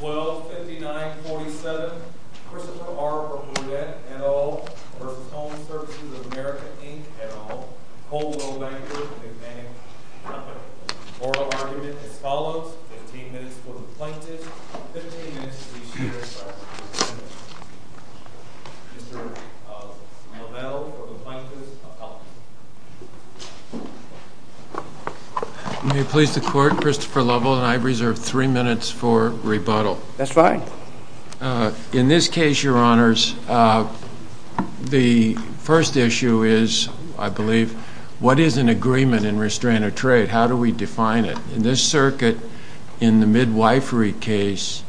12-59-47 Christopher R. Boudet et al. v. HomeServices of America, Inc. et al. Coldwell Bankers and the Expanded Company Moral Argument as follows 15 minutes for the Plaintiffs 15 minutes for each jury Mr. Lovell for the Plaintiffs May it please the Court, Christopher Lovell and I reserve three minutes for rebuttal. That's fine. In this case, Your Honors, the first issue is, I believe, what is an agreement in restraint of trade? How do we define it? In this circuit, in the Midwifery case,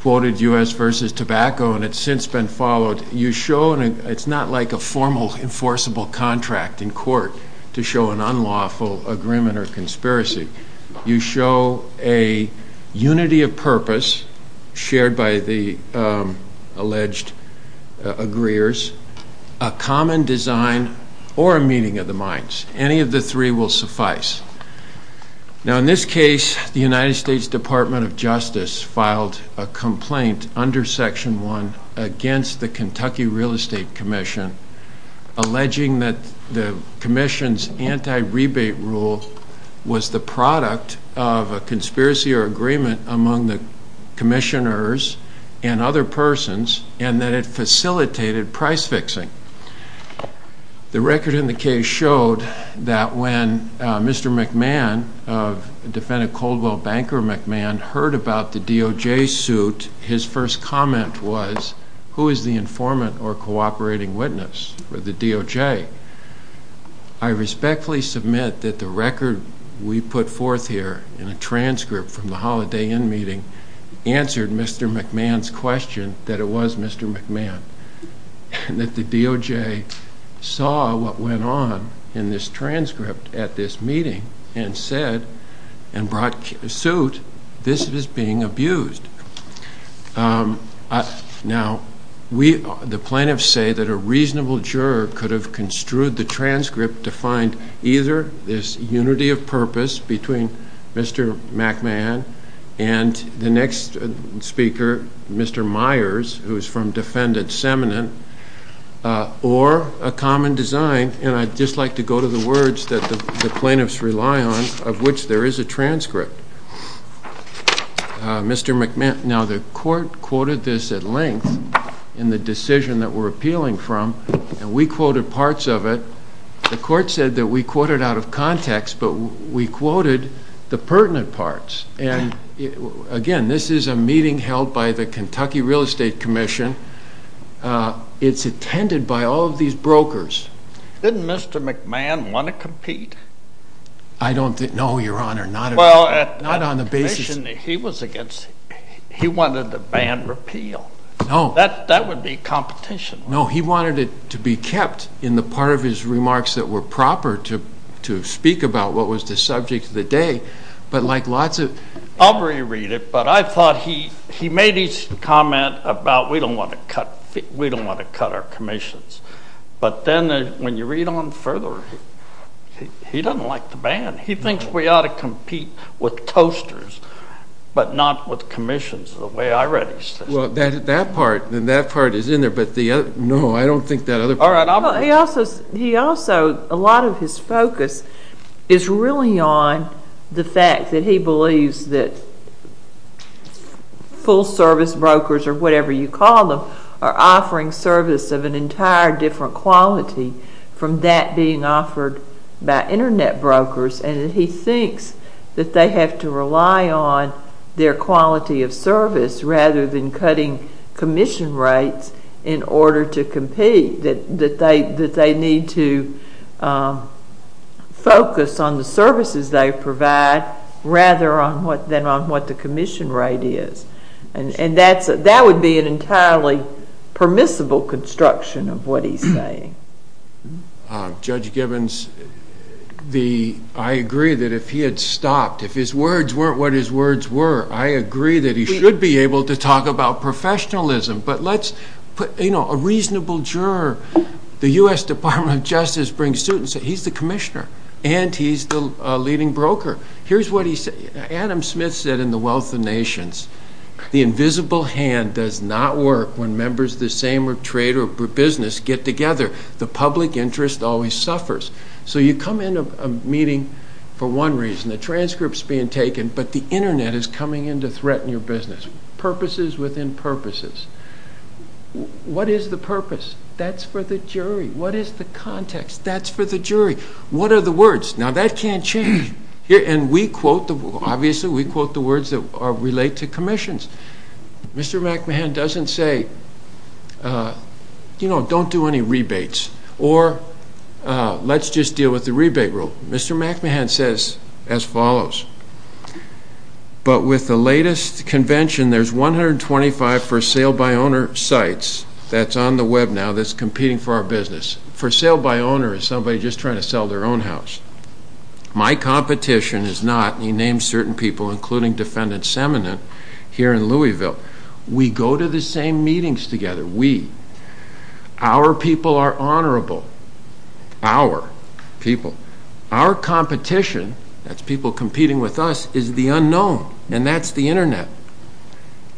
quoted U.S. v. Tobacco, and it's since been followed, you show, it's not like a formal enforceable contract in court to show an unlawful agreement or conspiracy. You show a unity of purpose shared by the alleged agreeers, a common design, or a meeting of the minds. Any of the three will suffice. Now, in this case, the United States Department of Justice filed a complaint under Section 1 against the Kentucky Real Estate Commission, alleging that the commission's anti-rebate rule was the product of a conspiracy or agreement among the commissioners and other persons, and that it facilitated price fixing. The record in the case showed that when Mr. McMahon, Defendant Coldwell Banker McMahon, heard about the DOJ suit, his first comment was, who is the informant or cooperating witness for the DOJ? I respectfully submit that the record we put forth here in a transcript from the Holiday Inn meeting answered Mr. McMahon's question that it was Mr. McMahon, and that the DOJ saw what went on in this transcript at this meeting and said, and brought suit, this is being abused. Now, the plaintiffs say that a reasonable juror could have construed the transcript to find either this unity of purpose between Mr. McMahon and the next speaker, Mr. Myers, who is from Defendant Seminent, or a common design, and I'd just like to go to the words that the plaintiffs rely on, of which there is a transcript. Mr. McMahon, now the court quoted this at length in the decision that we're appealing from, and we quoted parts of it. The court said that we quoted out of context, but we quoted the pertinent parts. And again, this is a meeting held by the Kentucky Real Estate Commission. It's attended by all of these brokers. Didn't Mr. McMahon want to compete? I don't think, no, Your Honor, not at all. Well, at the commission he was against, he wanted the ban repealed. No. That would be competition. No, he wanted it to be kept in the part of his remarks that were proper to speak about what was the subject of the day, but like lots of... I'll re-read it, but I thought he made his comment about we don't want to cut our commissions, but then when you read on further, he doesn't like the ban. He thinks we ought to compete with toasters, but not with commissions, the way I read his thing. Well, that part is in there, but the other, no, I don't think that other part... He also, a lot of his focus is really on the fact that he believes that full service brokers, or whatever you call them, are offering service of an entire different quality from that being offered by internet brokers. And he thinks that they have to rely on their quality of service rather than cutting commission rates in order to compete, that they need to focus on the services they provide rather than on what the commission rate is. And that would be an entirely permissible construction of what he's saying. Judge Gibbons, I agree that if he had stopped, if his words weren't what his words were, I agree that he should be able to talk about professionalism, but let's put a reasonable juror. The U.S. Department of Justice brings suit and says he's the commissioner, and he's the leading broker. Adam Smith said in The Wealth of Nations, the invisible hand does not work when members of the same trade or business get together. The public interest always suffers. So you come into a meeting for one reason. The transcript's being taken, but the internet is coming in to threaten your business. Purposes within purposes. What is the purpose? That's for the jury. That's for the jury. What are the words? Now, that can't change. And we quote, obviously we quote the words that relate to commissions. Mr. McMahon doesn't say, you know, don't do any rebates, or let's just deal with the rebate rule. Mr. McMahon says as follows, but with the latest convention, there's 125 for sale by owner sites that's on the web now that's competing for our business. For sale by owner is somebody just trying to sell their own house. My competition is not, and he names certain people, including defendant Semonite here in Louisville. We go to the same meetings together. We. Our people are honorable. Our people. Our competition, that's people competing with us, is the unknown, and that's the internet.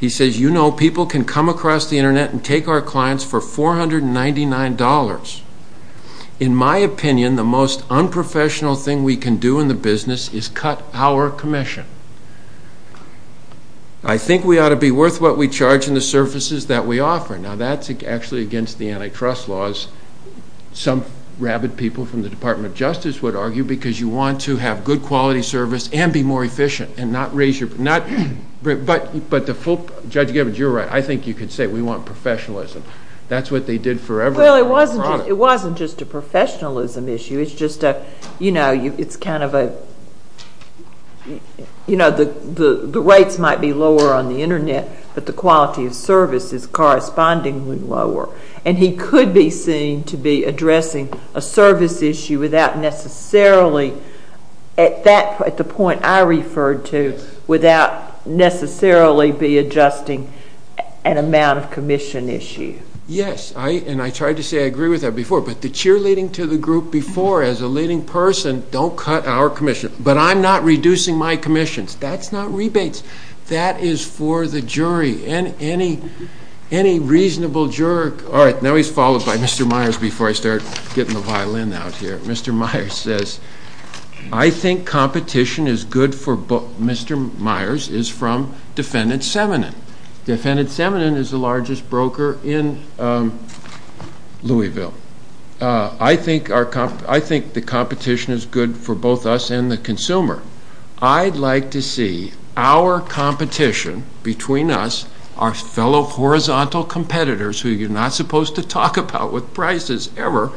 He says, you know, people can come across the internet and take our clients for $499. In my opinion, the most unprofessional thing we can do in the business is cut our commission. I think we ought to be worth what we charge in the services that we offer. Now, that's actually against the antitrust laws. Some rabid people from the Department of Justice would argue because you want to have good quality service and be more efficient and not raise your, not, but the full, Judge Gibbons, you're right. I think you could say we want professionalism. That's what they did forever. Well, it wasn't just a professionalism issue. It's just a, you know, it's kind of a, you know, the rates might be lower on the internet, but the quality of service is correspondingly lower, and he could be seen to be addressing a service issue without necessarily, at the point I referred to, without necessarily be adjusting an amount of commission issue. Yes, and I tried to say I agree with that before, but the cheerleading to the group before as a leading person, don't cut our commission, but I'm not reducing my commissions. That's not rebates. That is for the jury. Any reasonable juror. All right, now he's followed by Mr. Myers before I start getting the violin out here. Mr. Myers says, I think competition is good for both. Mr. Myers is from Defendant Seminen. Defendant Seminen is the largest broker in Louisville. I think the competition is good for both us and the consumer. I'd like to see our competition between us, our fellow horizontal competitors, who you're not supposed to talk about with prices ever.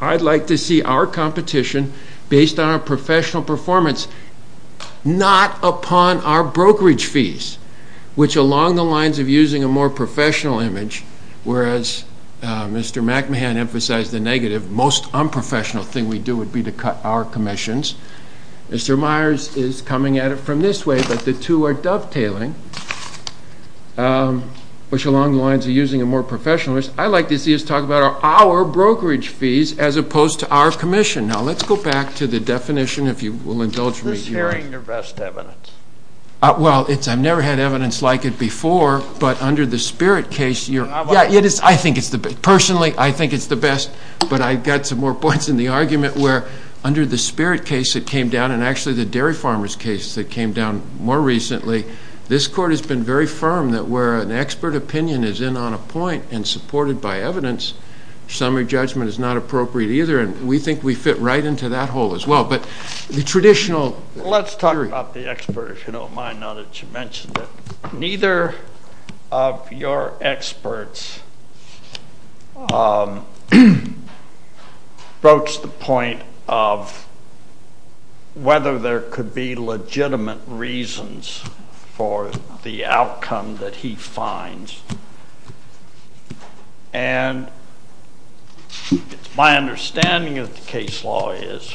I'd like to see our competition based on our professional performance, not upon our brokerage fees, which along the lines of using a more professional image, whereas Mr. McMahon emphasized the negative, most unprofessional thing we do would be to cut our commissions. Mr. Myers is coming at it from this way, but the two are dovetailing, which along the lines of using a more professional image. I'd like to see us talk about our brokerage fees as opposed to our commission. Now, let's go back to the definition, if you will indulge me. Is this hearing your best evidence? Well, I've never had evidence like it before, but under the Spirit case, I think it's the best. But I've got some more points in the argument where under the Spirit case that came down and actually the dairy farmers case that came down more recently, this court has been very firm that where an expert opinion is in on a point and supported by evidence, summary judgment is not appropriate either, and we think we fit right into that hole as well. But the traditional theory. Let's talk about the expert, if you don't mind, now that you mentioned it. Neither of your experts broach the point of whether there could be legitimate reasons for the outcome that he finds. And my understanding of the case law is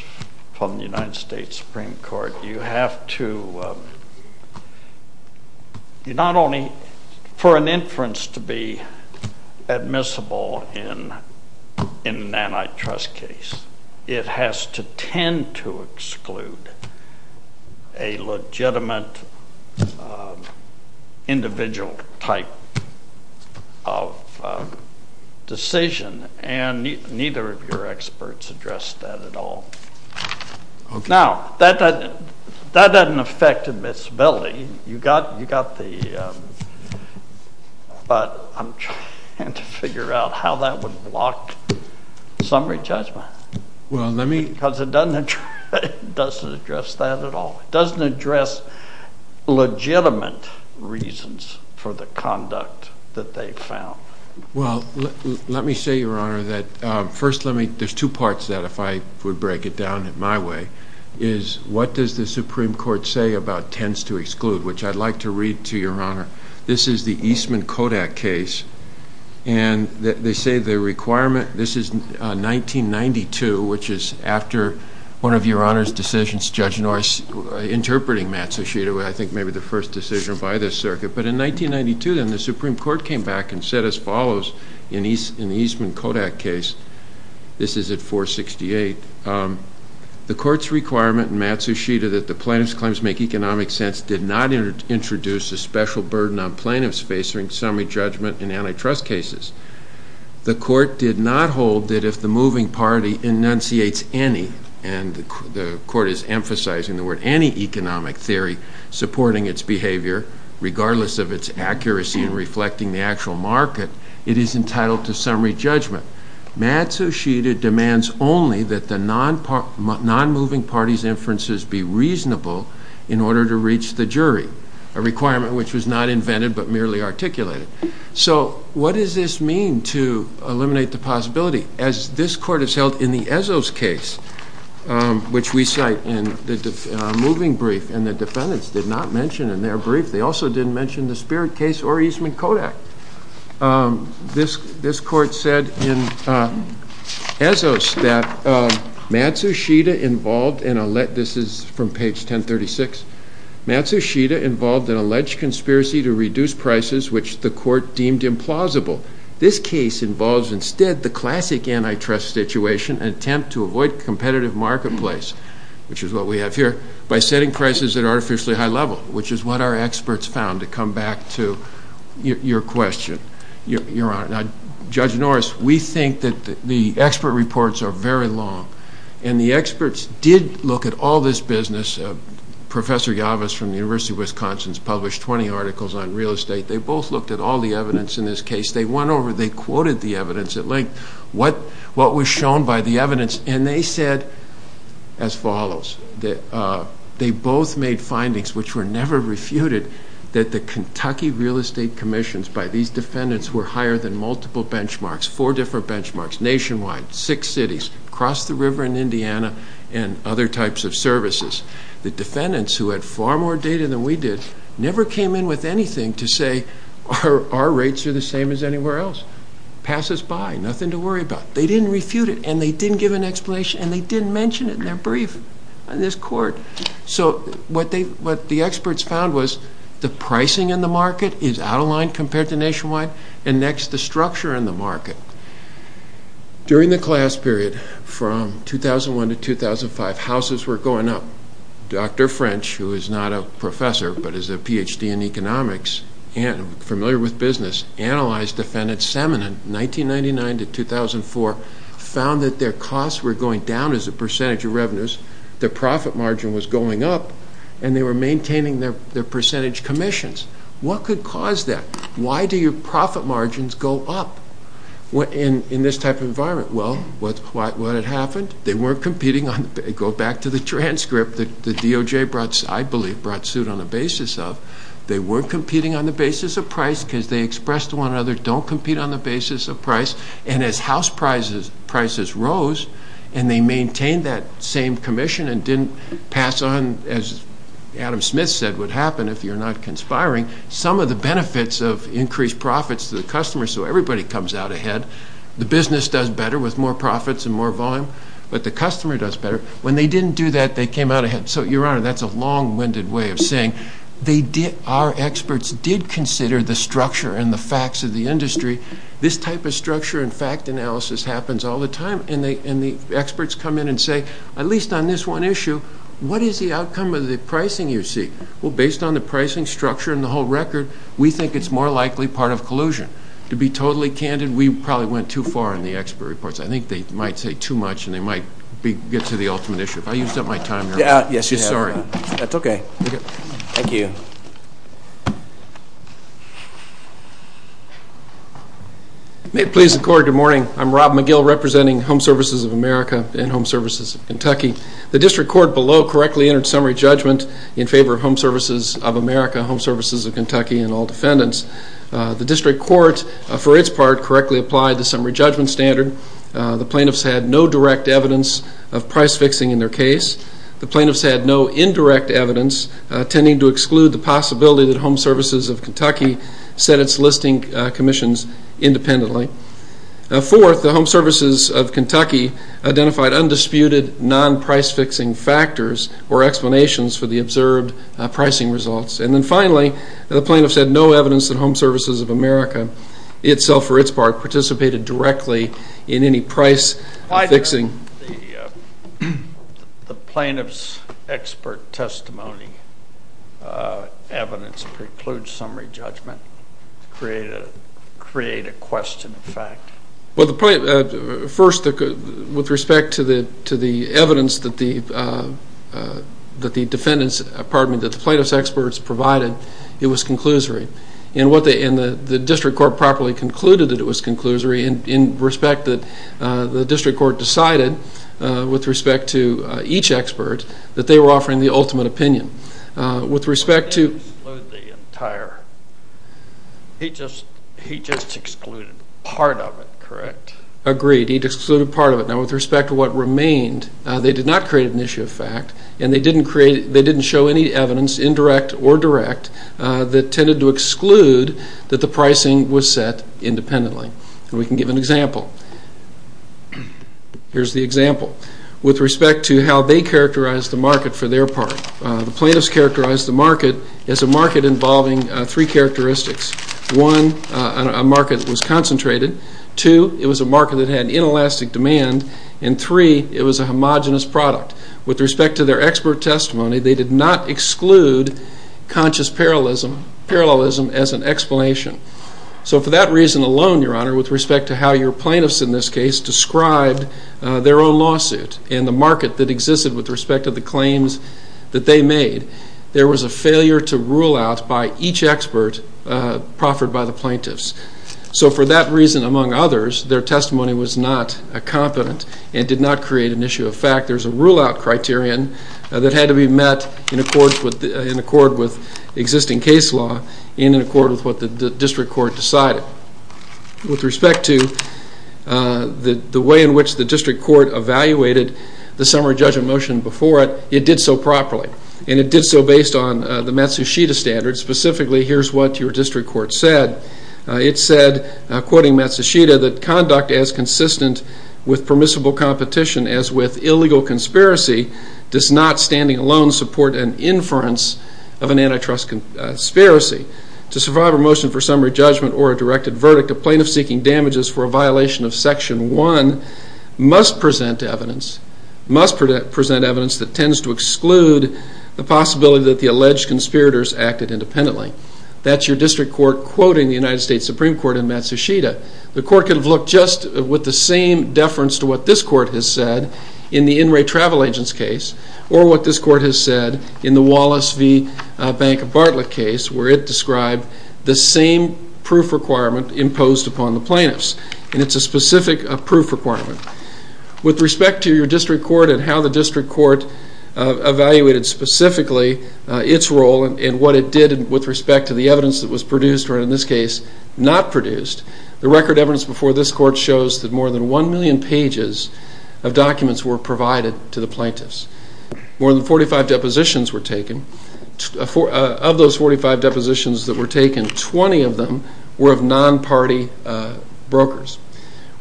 from the United States Supreme Court, you have to not only for an inference to be admissible in an antitrust case, it has to tend to exclude a legitimate individual type of decision, and neither of your experts address that at all. Now, that doesn't affect admissibility, but I'm trying to figure out how that would block summary judgment. Because it doesn't address that at all. It doesn't address legitimate reasons for the conduct that they found. Well, let me say, Your Honor, that first, there's two parts to that, if I would break it down in my way, is what does the Supreme Court say about tends to exclude, which I'd like to read to Your Honor. This is the Eastman-Kodak case, and they say the requirement, this is 1992, which is after one of Your Honor's decisions, Judge Norris interpreting Matt Sushida, I think maybe the first decision by this circuit. But in 1992, then, the Supreme Court came back and said as follows in the Eastman-Kodak case. This is at 468. The court's requirement in Matt Sushida that the plaintiff's claims make economic sense did not introduce a special burden on plaintiffs facing summary judgment in antitrust cases. The court did not hold that if the moving party enunciates any, and the court is emphasizing the word, any economic theory supporting its behavior, regardless of its accuracy in reflecting the actual market, it is entitled to summary judgment. Matt Sushida demands only that the non-moving party's inferences be reasonable in order to reach the jury, a requirement which was not invented but merely articulated. So what does this mean to eliminate the possibility? As this court has held in the Ezos case, which we cite in the moving brief, and the defendants did not mention in their brief. They also didn't mention the Spirit case or Eastman-Kodak. This court said in Ezos that Matt Sushida involved in a, this is from page 1036, Matt Sushida involved in alleged conspiracy to reduce prices, which the court deemed implausible. This case involves instead the classic antitrust situation, an attempt to avoid competitive marketplace, which is what we have here, by setting prices at artificially high level, which is what our experts found, to come back to your question, Your Honor. Now, Judge Norris, we think that the expert reports are very long, and the experts did look at all this business. Professor Yavas from the University of Wisconsin has published 20 articles on real estate. They both looked at all the evidence in this case. They went over, they quoted the evidence at length, what was shown by the evidence, and they said as follows. They both made findings which were never refuted, that the Kentucky real estate commissions by these defendants were higher than multiple benchmarks, four different benchmarks, nationwide, six cities, across the river in Indiana, and other types of services. The defendants, who had far more data than we did, never came in with anything to say, our rates are the same as anywhere else. Pass us by, nothing to worry about. They didn't refute it, and they didn't give an explanation, and they didn't mention it in their brief on this court. So, what the experts found was, the pricing in the market is out of line compared to nationwide, and next, the structure in the market. During the class period from 2001 to 2005, houses were going up. Dr. French, who is not a professor, but is a Ph.D. in economics, and familiar with business, analyzed defendants' semen in 1999 to 2004, found that their costs were going down as a percentage of revenues, their profit margin was going up, and they were maintaining their percentage commissions. What could cause that? Why do your profit margins go up in this type of environment? Well, what had happened? They weren't competing on the, go back to the transcript, the DOJ brought, I believe, brought suit on the basis of, they weren't competing on the basis of price because they expressed to one another, don't compete on the basis of price, and as house prices rose, and they maintained that same commission and didn't pass on, as Adam Smith said would happen if you're not conspiring, some of the benefits of increased profits to the customer, so everybody comes out ahead. The business does better with more profits and more volume, but the customer does better. When they didn't do that, they came out ahead. So, Your Honor, that's a long-winded way of saying our experts did consider the structure and the facts of the industry. This type of structure and fact analysis happens all the time, and the experts come in and say, at least on this one issue, what is the outcome of the pricing you see? Well, based on the pricing structure and the whole record, we think it's more likely part of collusion. To be totally candid, we probably went too far in the expert reports. I think they might say too much and they might get to the ultimate issue. If I used up my time here, I'm sorry. That's okay. Thank you. May it please the Court, good morning. I'm Rob McGill representing Home Services of America and Home Services of Kentucky. The district court below correctly entered summary judgment in favor of Home Services of America, Home Services of Kentucky, and all defendants. The district court, for its part, correctly applied the summary judgment standard. The plaintiffs had no direct evidence of price fixing in their case. The plaintiffs had no indirect evidence, tending to exclude the possibility that Home Services of Kentucky set its listing commissions independently. Fourth, the Home Services of Kentucky identified undisputed non-price fixing factors or explanations for the observed pricing results. And then finally, the plaintiffs had no evidence that Home Services of America itself, for its part, participated directly in any price fixing. The plaintiffs' expert testimony evidence precludes summary judgment to create a question of fact. First, with respect to the evidence that the plaintiffs' experts provided, it was conclusory. And the district court properly concluded that it was conclusory in respect that the district court decided, with respect to each expert, that they were offering the ultimate opinion. They didn't exclude the entire. He just excluded part of it, correct? Agreed. He excluded part of it. Now, with respect to what remained, they did not create an issue of fact, and they didn't show any evidence, indirect or direct, that tended to exclude that the pricing was set independently. We can give an example. Here's the example. With respect to how they characterized the market for their part, the plaintiffs characterized the market as a market involving three characteristics. One, a market that was concentrated. Two, it was a market that had inelastic demand. And three, it was a homogenous product. With respect to their expert testimony, they did not exclude conscious parallelism as an explanation. So for that reason alone, Your Honor, with respect to how your plaintiffs in this case described their own lawsuit and the market that existed with respect to the claims that they made, there was a failure to rule out by each expert proffered by the plaintiffs. So for that reason among others, their testimony was not competent and did not create an issue of fact. There's a rule-out criterion that had to be met in accord with existing case law and in accord with what the district court decided. With respect to the way in which the district court evaluated the summary judgment motion before it, it did so properly, and it did so based on the Matsushita standard. Specifically, here's what your district court said. It said, quoting Matsushita, that conduct as consistent with permissible competition as with illegal conspiracy does not standing alone support an inference of an antitrust conspiracy. To survive a motion for summary judgment or a directed verdict, a plaintiff seeking damages for a violation of Section 1 must present evidence that tends to exclude the possibility that the alleged conspirators acted independently. That's your district court quoting the United States Supreme Court in Matsushita. The court could have looked just with the same deference to what this court has said in the In Re Travel Agents case or what this court has said in the Wallace v. Bank of Bartlett case where it described the same proof requirement imposed upon the plaintiffs, and it's a specific proof requirement. With respect to your district court and how the district court evaluated specifically its role and what it did with respect to the evidence that was produced or, in this case, not produced, the record evidence before this court shows that more than one million pages of documents were provided to the plaintiffs. More than 45 depositions were taken. Of those 45 depositions that were taken, 20 of them were of non-party brokers.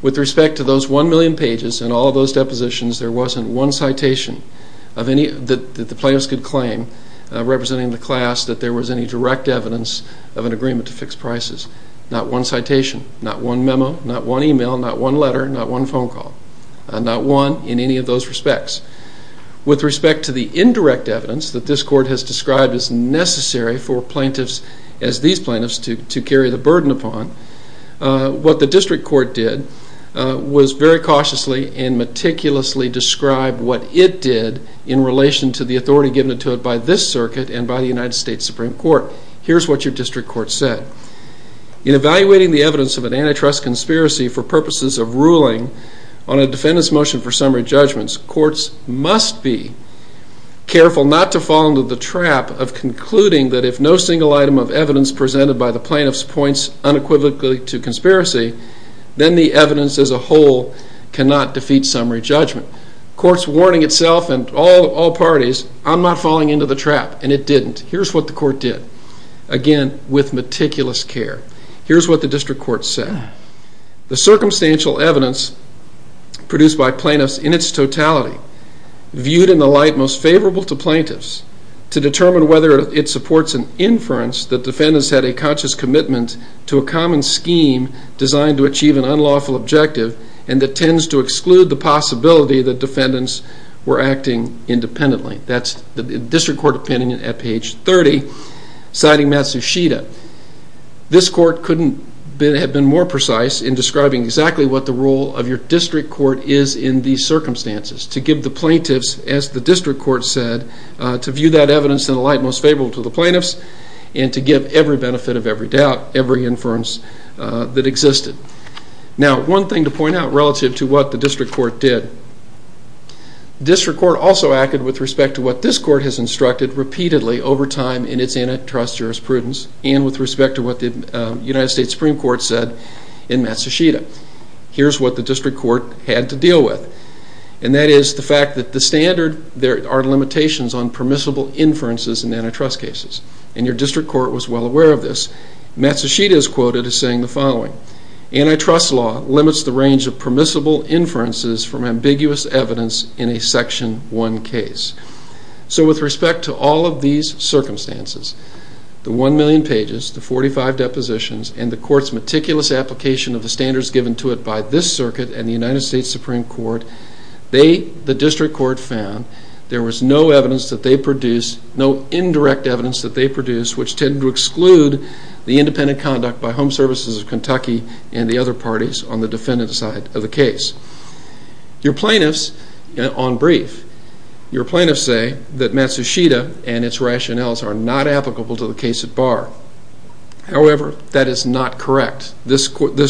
With respect to those one million pages and all those depositions, there wasn't one citation that the plaintiffs could claim representing the class that there was any direct evidence of an agreement to fix prices. Not one citation. Not one memo. Not one email. Not one letter. Not one phone call. Not one in any of those respects. With respect to the indirect evidence that this court has described as necessary for plaintiffs, as these plaintiffs, to carry the burden upon, what the district court did was very cautiously and meticulously describe what it did in relation to the authority given to it by this circuit and by the United States Supreme Court. Here's what your district court said. In evaluating the evidence of an antitrust conspiracy for purposes of ruling on a defendant's motion for summary judgments, courts must be careful not to fall into the trap of concluding that if no single item of evidence presented by the plaintiffs points unequivocally to conspiracy, then the evidence as a whole cannot defeat summary judgment. Courts warning itself and all parties, I'm not falling into the trap, and it didn't. Here's what the court did. Again, with meticulous care. Here's what the district court said. The circumstantial evidence produced by plaintiffs in its totality, viewed in the light most favorable to plaintiffs, to determine whether it supports an inference that defendants had a conscious commitment to a common scheme designed to achieve an unlawful objective and that tends to exclude the possibility that defendants were acting independently. That's the district court opinion at page 30, citing Matsushita. This court couldn't have been more precise in describing exactly what the role of your district court is in these circumstances, to give the plaintiffs, as the district court said, to view that evidence in the light most favorable to the plaintiffs and to give every benefit of every doubt, every inference that existed. Now, one thing to point out relative to what the district court did. District court also acted with respect to what this court has instructed repeatedly over time in its antitrust jurisprudence and with respect to what the United States Supreme Court said in Matsushita. Here's what the district court had to deal with. And that is the fact that the standard, there are limitations on permissible inferences in antitrust cases. And your district court was well aware of this. Matsushita is quoted as saying the following. Antitrust law limits the range of permissible inferences from ambiguous evidence in a Section 1 case. So with respect to all of these circumstances, the 1 million pages, the 45 depositions, and the court's meticulous application of the standards given to it by this circuit and the United States Supreme Court, the district court found there was no evidence that they produced, no indirect evidence that they produced, which tended to exclude the independent conduct by Home Services of Kentucky and the other parties on the defendant side of the case. Your plaintiffs, on brief, your plaintiffs say that Matsushita and its rationales are not applicable to the case at bar. However, that is not correct. This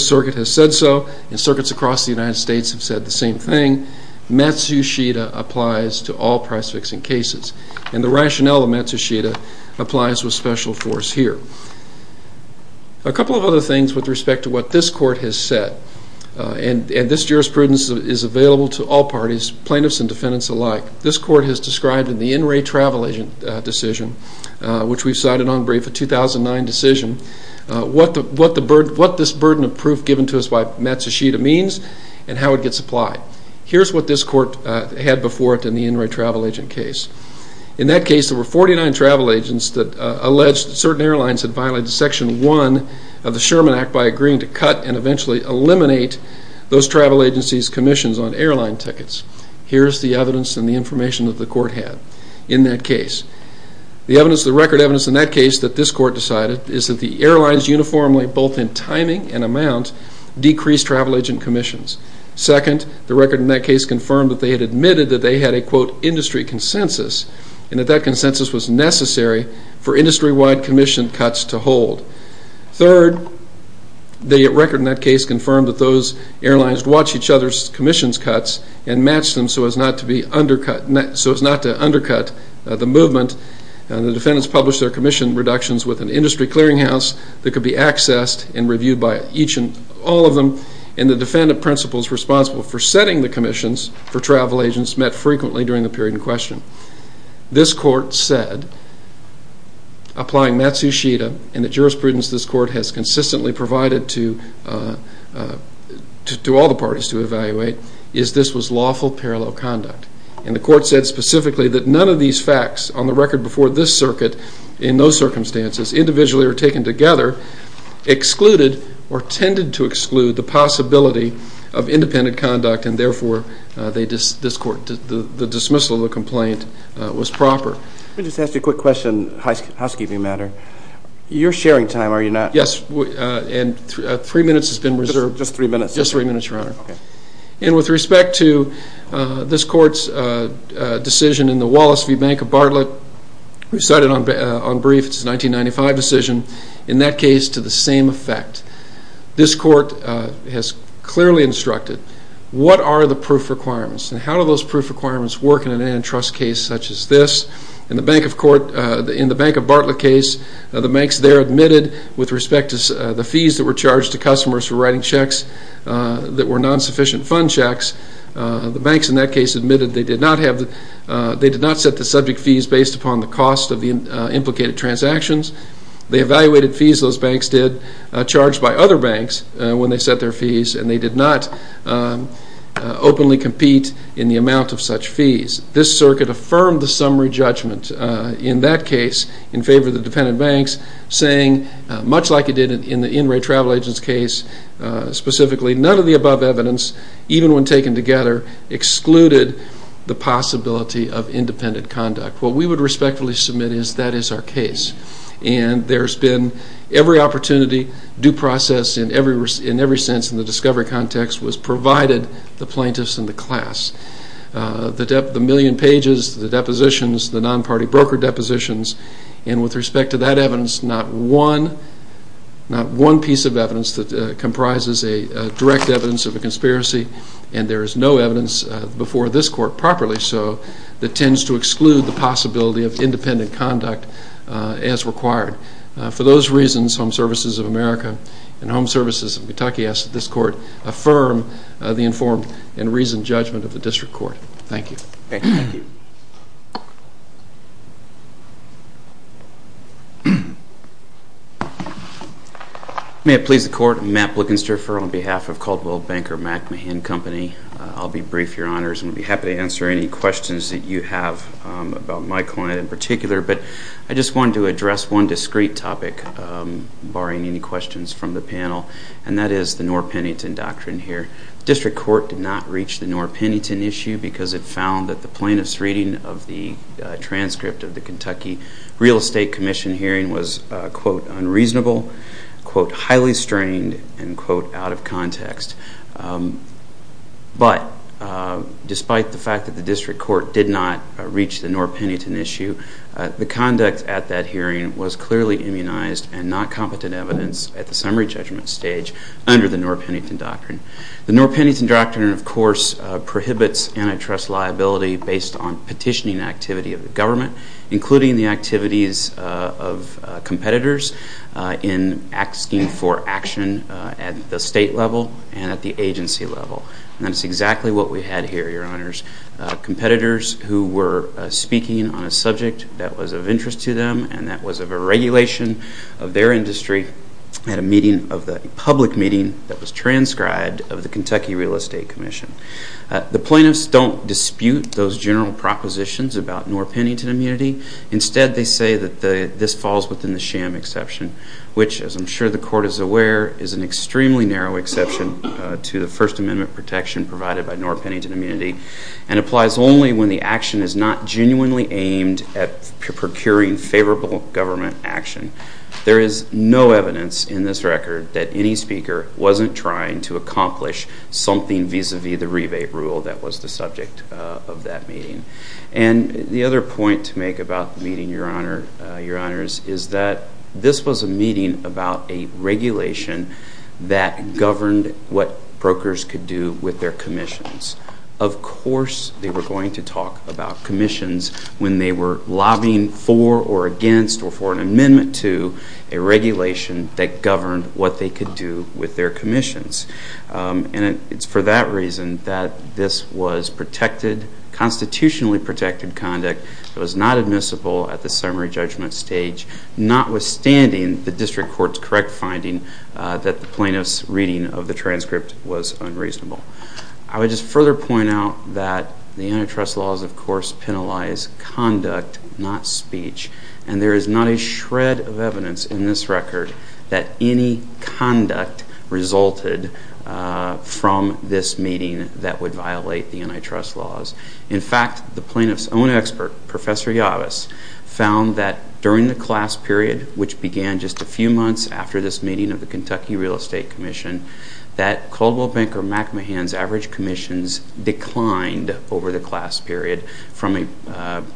circuit has said so, and circuits across the United States have said the same thing. Matsushita applies to all price-fixing cases. And the rationale of Matsushita applies with special force here. A couple of other things with respect to what this court has said, and this jurisprudence is available to all parties, plaintiffs and defendants alike. This court has described in the In Re Travel Agent decision, which we've cited on brief, a 2009 decision, what this burden of proof given to us by Matsushita means and how it gets applied. Here's what this court had before it in the In Re Travel Agent case. In that case, there were 49 travel agents that alleged certain airlines had violated Section 1 of the Sherman Act by agreeing to cut and eventually eliminate those travel agencies' commissions on airline tickets. Here's the evidence and the information that the court had in that case. The record evidence in that case that this court decided is that the airlines uniformly, both in timing and amount, decreased travel agent commissions. Second, the record in that case confirmed that they had admitted that they had a, quote, industry consensus and that that consensus was necessary for industry-wide commission cuts to hold. Third, the record in that case confirmed that those airlines watched each other's commissions cuts and matched them so as not to undercut the movement. The defendants published their commission reductions with an industry clearinghouse that could be accessed and reviewed by each and all of them. And the defendant principals responsible for setting the commissions for travel agents met frequently during the period in question. This court said, applying Matsushita, and the jurisprudence this court has consistently provided to all the parties to evaluate, is this was lawful parallel conduct. And the court said specifically that none of these facts on the record before this circuit, in those circumstances, individually or taken together, excluded or tended to exclude the possibility of independent conduct and therefore this court, the dismissal of the complaint was proper. Let me just ask you a quick question, housekeeping matter. You're sharing time, are you not? Yes, and three minutes has been reserved. Just three minutes? Just three minutes, Your Honor. And with respect to this court's decision in the Wallace v. Bank of Bartlett, we cited on brief its 1995 decision, in that case, to the same effect. This court has clearly instructed, what are the proof requirements and how do those proof requirements work in an antitrust case such as this? In the Bank of Bartlett case, the banks there admitted, with respect to the fees that were charged to customers for writing checks that were non-sufficient fund checks, the banks in that case admitted they did not set the subject fees based upon the cost of the implicated transactions. They evaluated fees those banks did, charged by other banks when they set their fees, and they did not openly compete in the amount of such fees. This circuit affirmed the summary judgment in that case in favor of the dependent banks, saying, much like it did in the In re Travel Agents case specifically, none of the above evidence, even when taken together, excluded the possibility of independent conduct. What we would respectfully submit is that is our case, and there's been every opportunity, due process in every sense in the discovery context was provided the plaintiffs and the class. The million pages, the depositions, the non-party broker depositions, and with respect to that evidence, not one piece of evidence that comprises a direct evidence of a conspiracy, and there is no evidence before this court, properly so, that tends to exclude the possibility of independent conduct as required. For those reasons, Home Services of America and Home Services of Kentucky ask that this court affirm the informed and reasoned judgment of the district court. Thank you. Thank you. May it please the court. I'm Matt Blickenstrafer on behalf of Caldwell Banker MacMahon Company. I'll be brief, Your Honors, and I'll be happy to answer any questions that you have about my client in particular, but I just wanted to address one discrete topic, barring any questions from the panel, and that is the Norr-Pennington Doctrine here. The district court did not reach the Norr-Pennington issue because it found that the plaintiff's reading of the transcript of the Kentucky Real Estate Commission hearing was, quote, unreasonable, quote, highly strained, and, quote, out of context. But despite the fact that the district court did not reach the Norr-Pennington issue, the conduct at that hearing was clearly immunized and not competent evidence at the summary judgment stage under the Norr-Pennington Doctrine. The Norr-Pennington Doctrine, of course, prohibits antitrust liability based on petitioning activity of the government, including the activities of competitors in asking for action at the state level and at the agency level. And that's exactly what we had here, Your Honors. Competitors who were speaking on a subject that was of interest to them and that was of a regulation of their industry had a public meeting that was transcribed of the Kentucky Real Estate Commission. The plaintiffs don't dispute those general propositions about Norr-Pennington immunity. Instead, they say that this falls within the sham exception, which, as I'm sure the court is aware, is an extremely narrow exception to the First Amendment protection provided by Norr-Pennington immunity and applies only when the action is not genuinely aimed at procuring favorable government action. There is no evidence in this record that any speaker wasn't trying to accomplish something vis-à-vis the rebate rule that was the subject of that meeting. And the other point to make about the meeting, Your Honors, is that this was a meeting about a regulation that governed what brokers could do with their commissions. Of course, they were going to talk about commissions when they were lobbying for or against or for an amendment to a regulation that governed what they could do with their commissions. And it's for that reason that this was protected, constitutionally protected conduct that was not admissible at the summary judgment stage, notwithstanding the district court's correct finding that the plaintiff's reading of the transcript was unreasonable. I would just further point out that the antitrust laws, of course, penalize conduct, not speech. And there is not a shred of evidence in this record that any conduct resulted from this meeting that would violate the antitrust laws. In fact, the plaintiff's own expert, Professor Yavis, found that during the class period, which began just a few months after this meeting of the Kentucky Real Estate Commission, that Caldwell Banker MacMahon's average commissions declined over the class period from an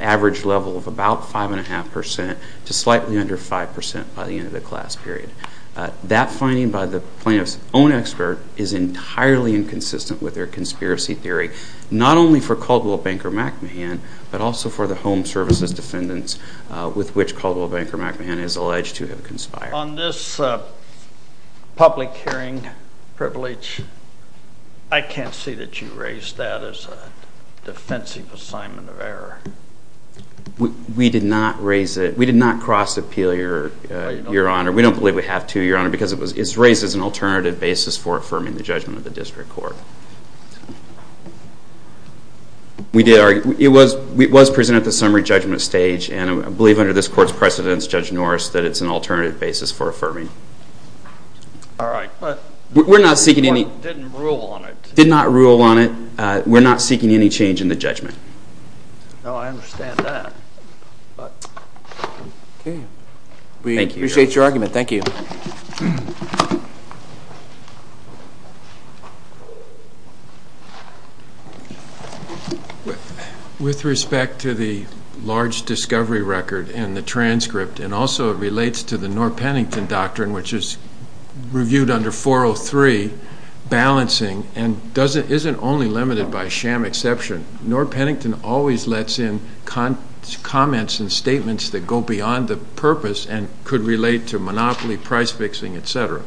average level of about 5.5% to slightly under 5% by the end of the class period. That finding by the plaintiff's own expert is entirely inconsistent with their conspiracy theory, not only for Caldwell Banker MacMahon, but also for the home services defendants with which Caldwell Banker MacMahon is alleged to have conspired. On this public hearing privilege, I can't see that you raised that as a defensive assignment of error. We did not raise it. We did not cross-appeal, Your Honor. We don't believe we have to, Your Honor, because it's raised as an alternative basis for affirming the judgment of the district court. It was presented at the summary judgment stage, and I believe under this court's precedence, Judge Norris, that it's an alternative basis for affirming. All right. But the court didn't rule on it. It did not rule on it. We're not seeking any change in the judgment. No, I understand that. We appreciate your argument. Thank you. With respect to the large discovery record and the transcript, and also it relates to the Norr-Pennington Doctrine, which is reviewed under 403, balancing and isn't only limited by sham exception. Norr-Pennington always lets in comments and statements that go beyond the purpose and could relate to monopoly, price fixing, et cetera.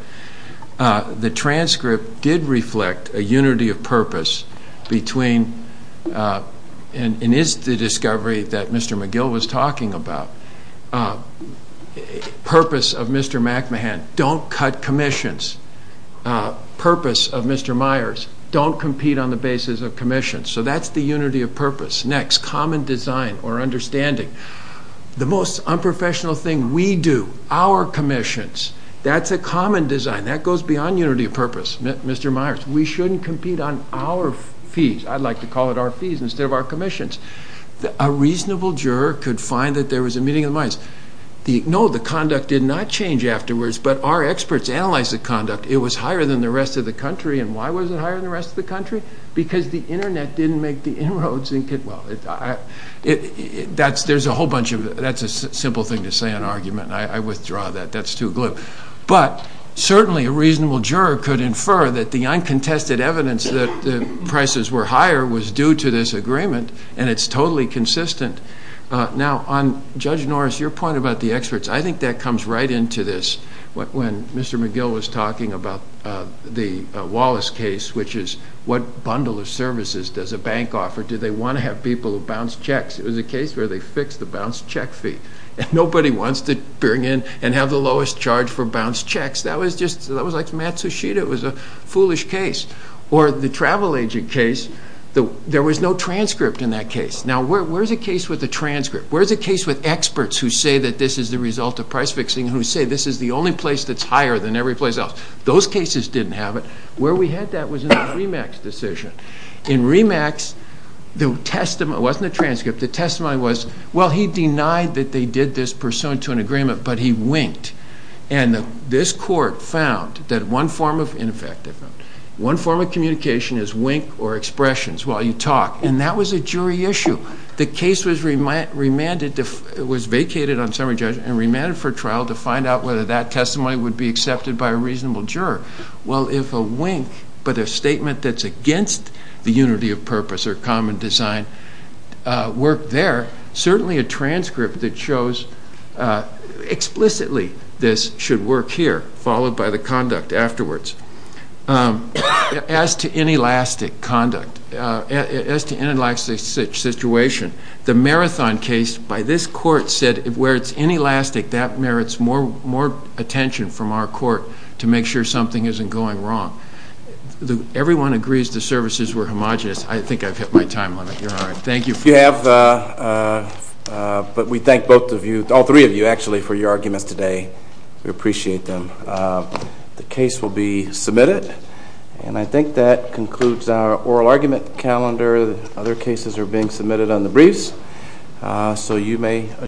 The transcript did reflect a unity of purpose between, and is the discovery that Mr. McGill was talking about, purpose of Mr. McMahon, don't cut commissions. Purpose of Mr. Myers, don't compete on the basis of commissions. So that's the unity of purpose. Next, common design or understanding. The most unprofessional thing we do, our commissions, that's a common design. That goes beyond unity of purpose, Mr. Myers. We shouldn't compete on our fees. I'd like to call it our fees instead of our commissions. A reasonable juror could find that there was a meeting of the minds. No, the conduct did not change afterwards, but our experts analyzed the conduct. It was higher than the rest of the country. And why was it higher than the rest of the country? Because the Internet didn't make the inroads. That's a simple thing to say in an argument. I withdraw that. That's too glib. But certainly a reasonable juror could infer that the uncontested evidence that the prices were higher was due to this agreement, and it's totally consistent. Now, on Judge Norris, your point about the experts, I think that comes right into this. When Mr. McGill was talking about the Wallace case, which is what bundle of services does a bank offer? Do they want to have people who bounce checks? It was a case where they fixed the bounce check fee. Nobody wants to bring in and have the lowest charge for bounce checks. That was like Matsushita. It was a foolish case. Or the travel agent case, there was no transcript in that case. Now, where's the case with the transcript? Where's the case with experts who say that this is the result of price fixing, who say this is the only place that's higher than every place else? Those cases didn't have it. Where we had that was in the Remax decision. In Remax, the testimony wasn't a transcript. The testimony was, well, he denied that they did this pursuant to an agreement, but he winked. And this court found that one form of communication is wink or expressions while you talk, and that was a jury issue. The case was vacated on summary judgment and remanded for trial to find out whether that testimony would be accepted by a reasonable juror. Well, if a wink but a statement that's against the unity of purpose or common design worked there, certainly a transcript that shows explicitly this should work here, followed by the conduct afterwards. As to inelastic conduct, as to inelastic situation, the marathon case by this court said where it's inelastic, that merits more attention from our court to make sure something isn't going wrong. Everyone agrees the services were homogenous. I think I've hit my time limit. You're all right. Thank you. You have, but we thank both of you, all three of you, actually, for your arguments today. We appreciate them. The case will be submitted, and I think that concludes our oral argument calendar. Other cases are being submitted on the briefs, so you may adjourn.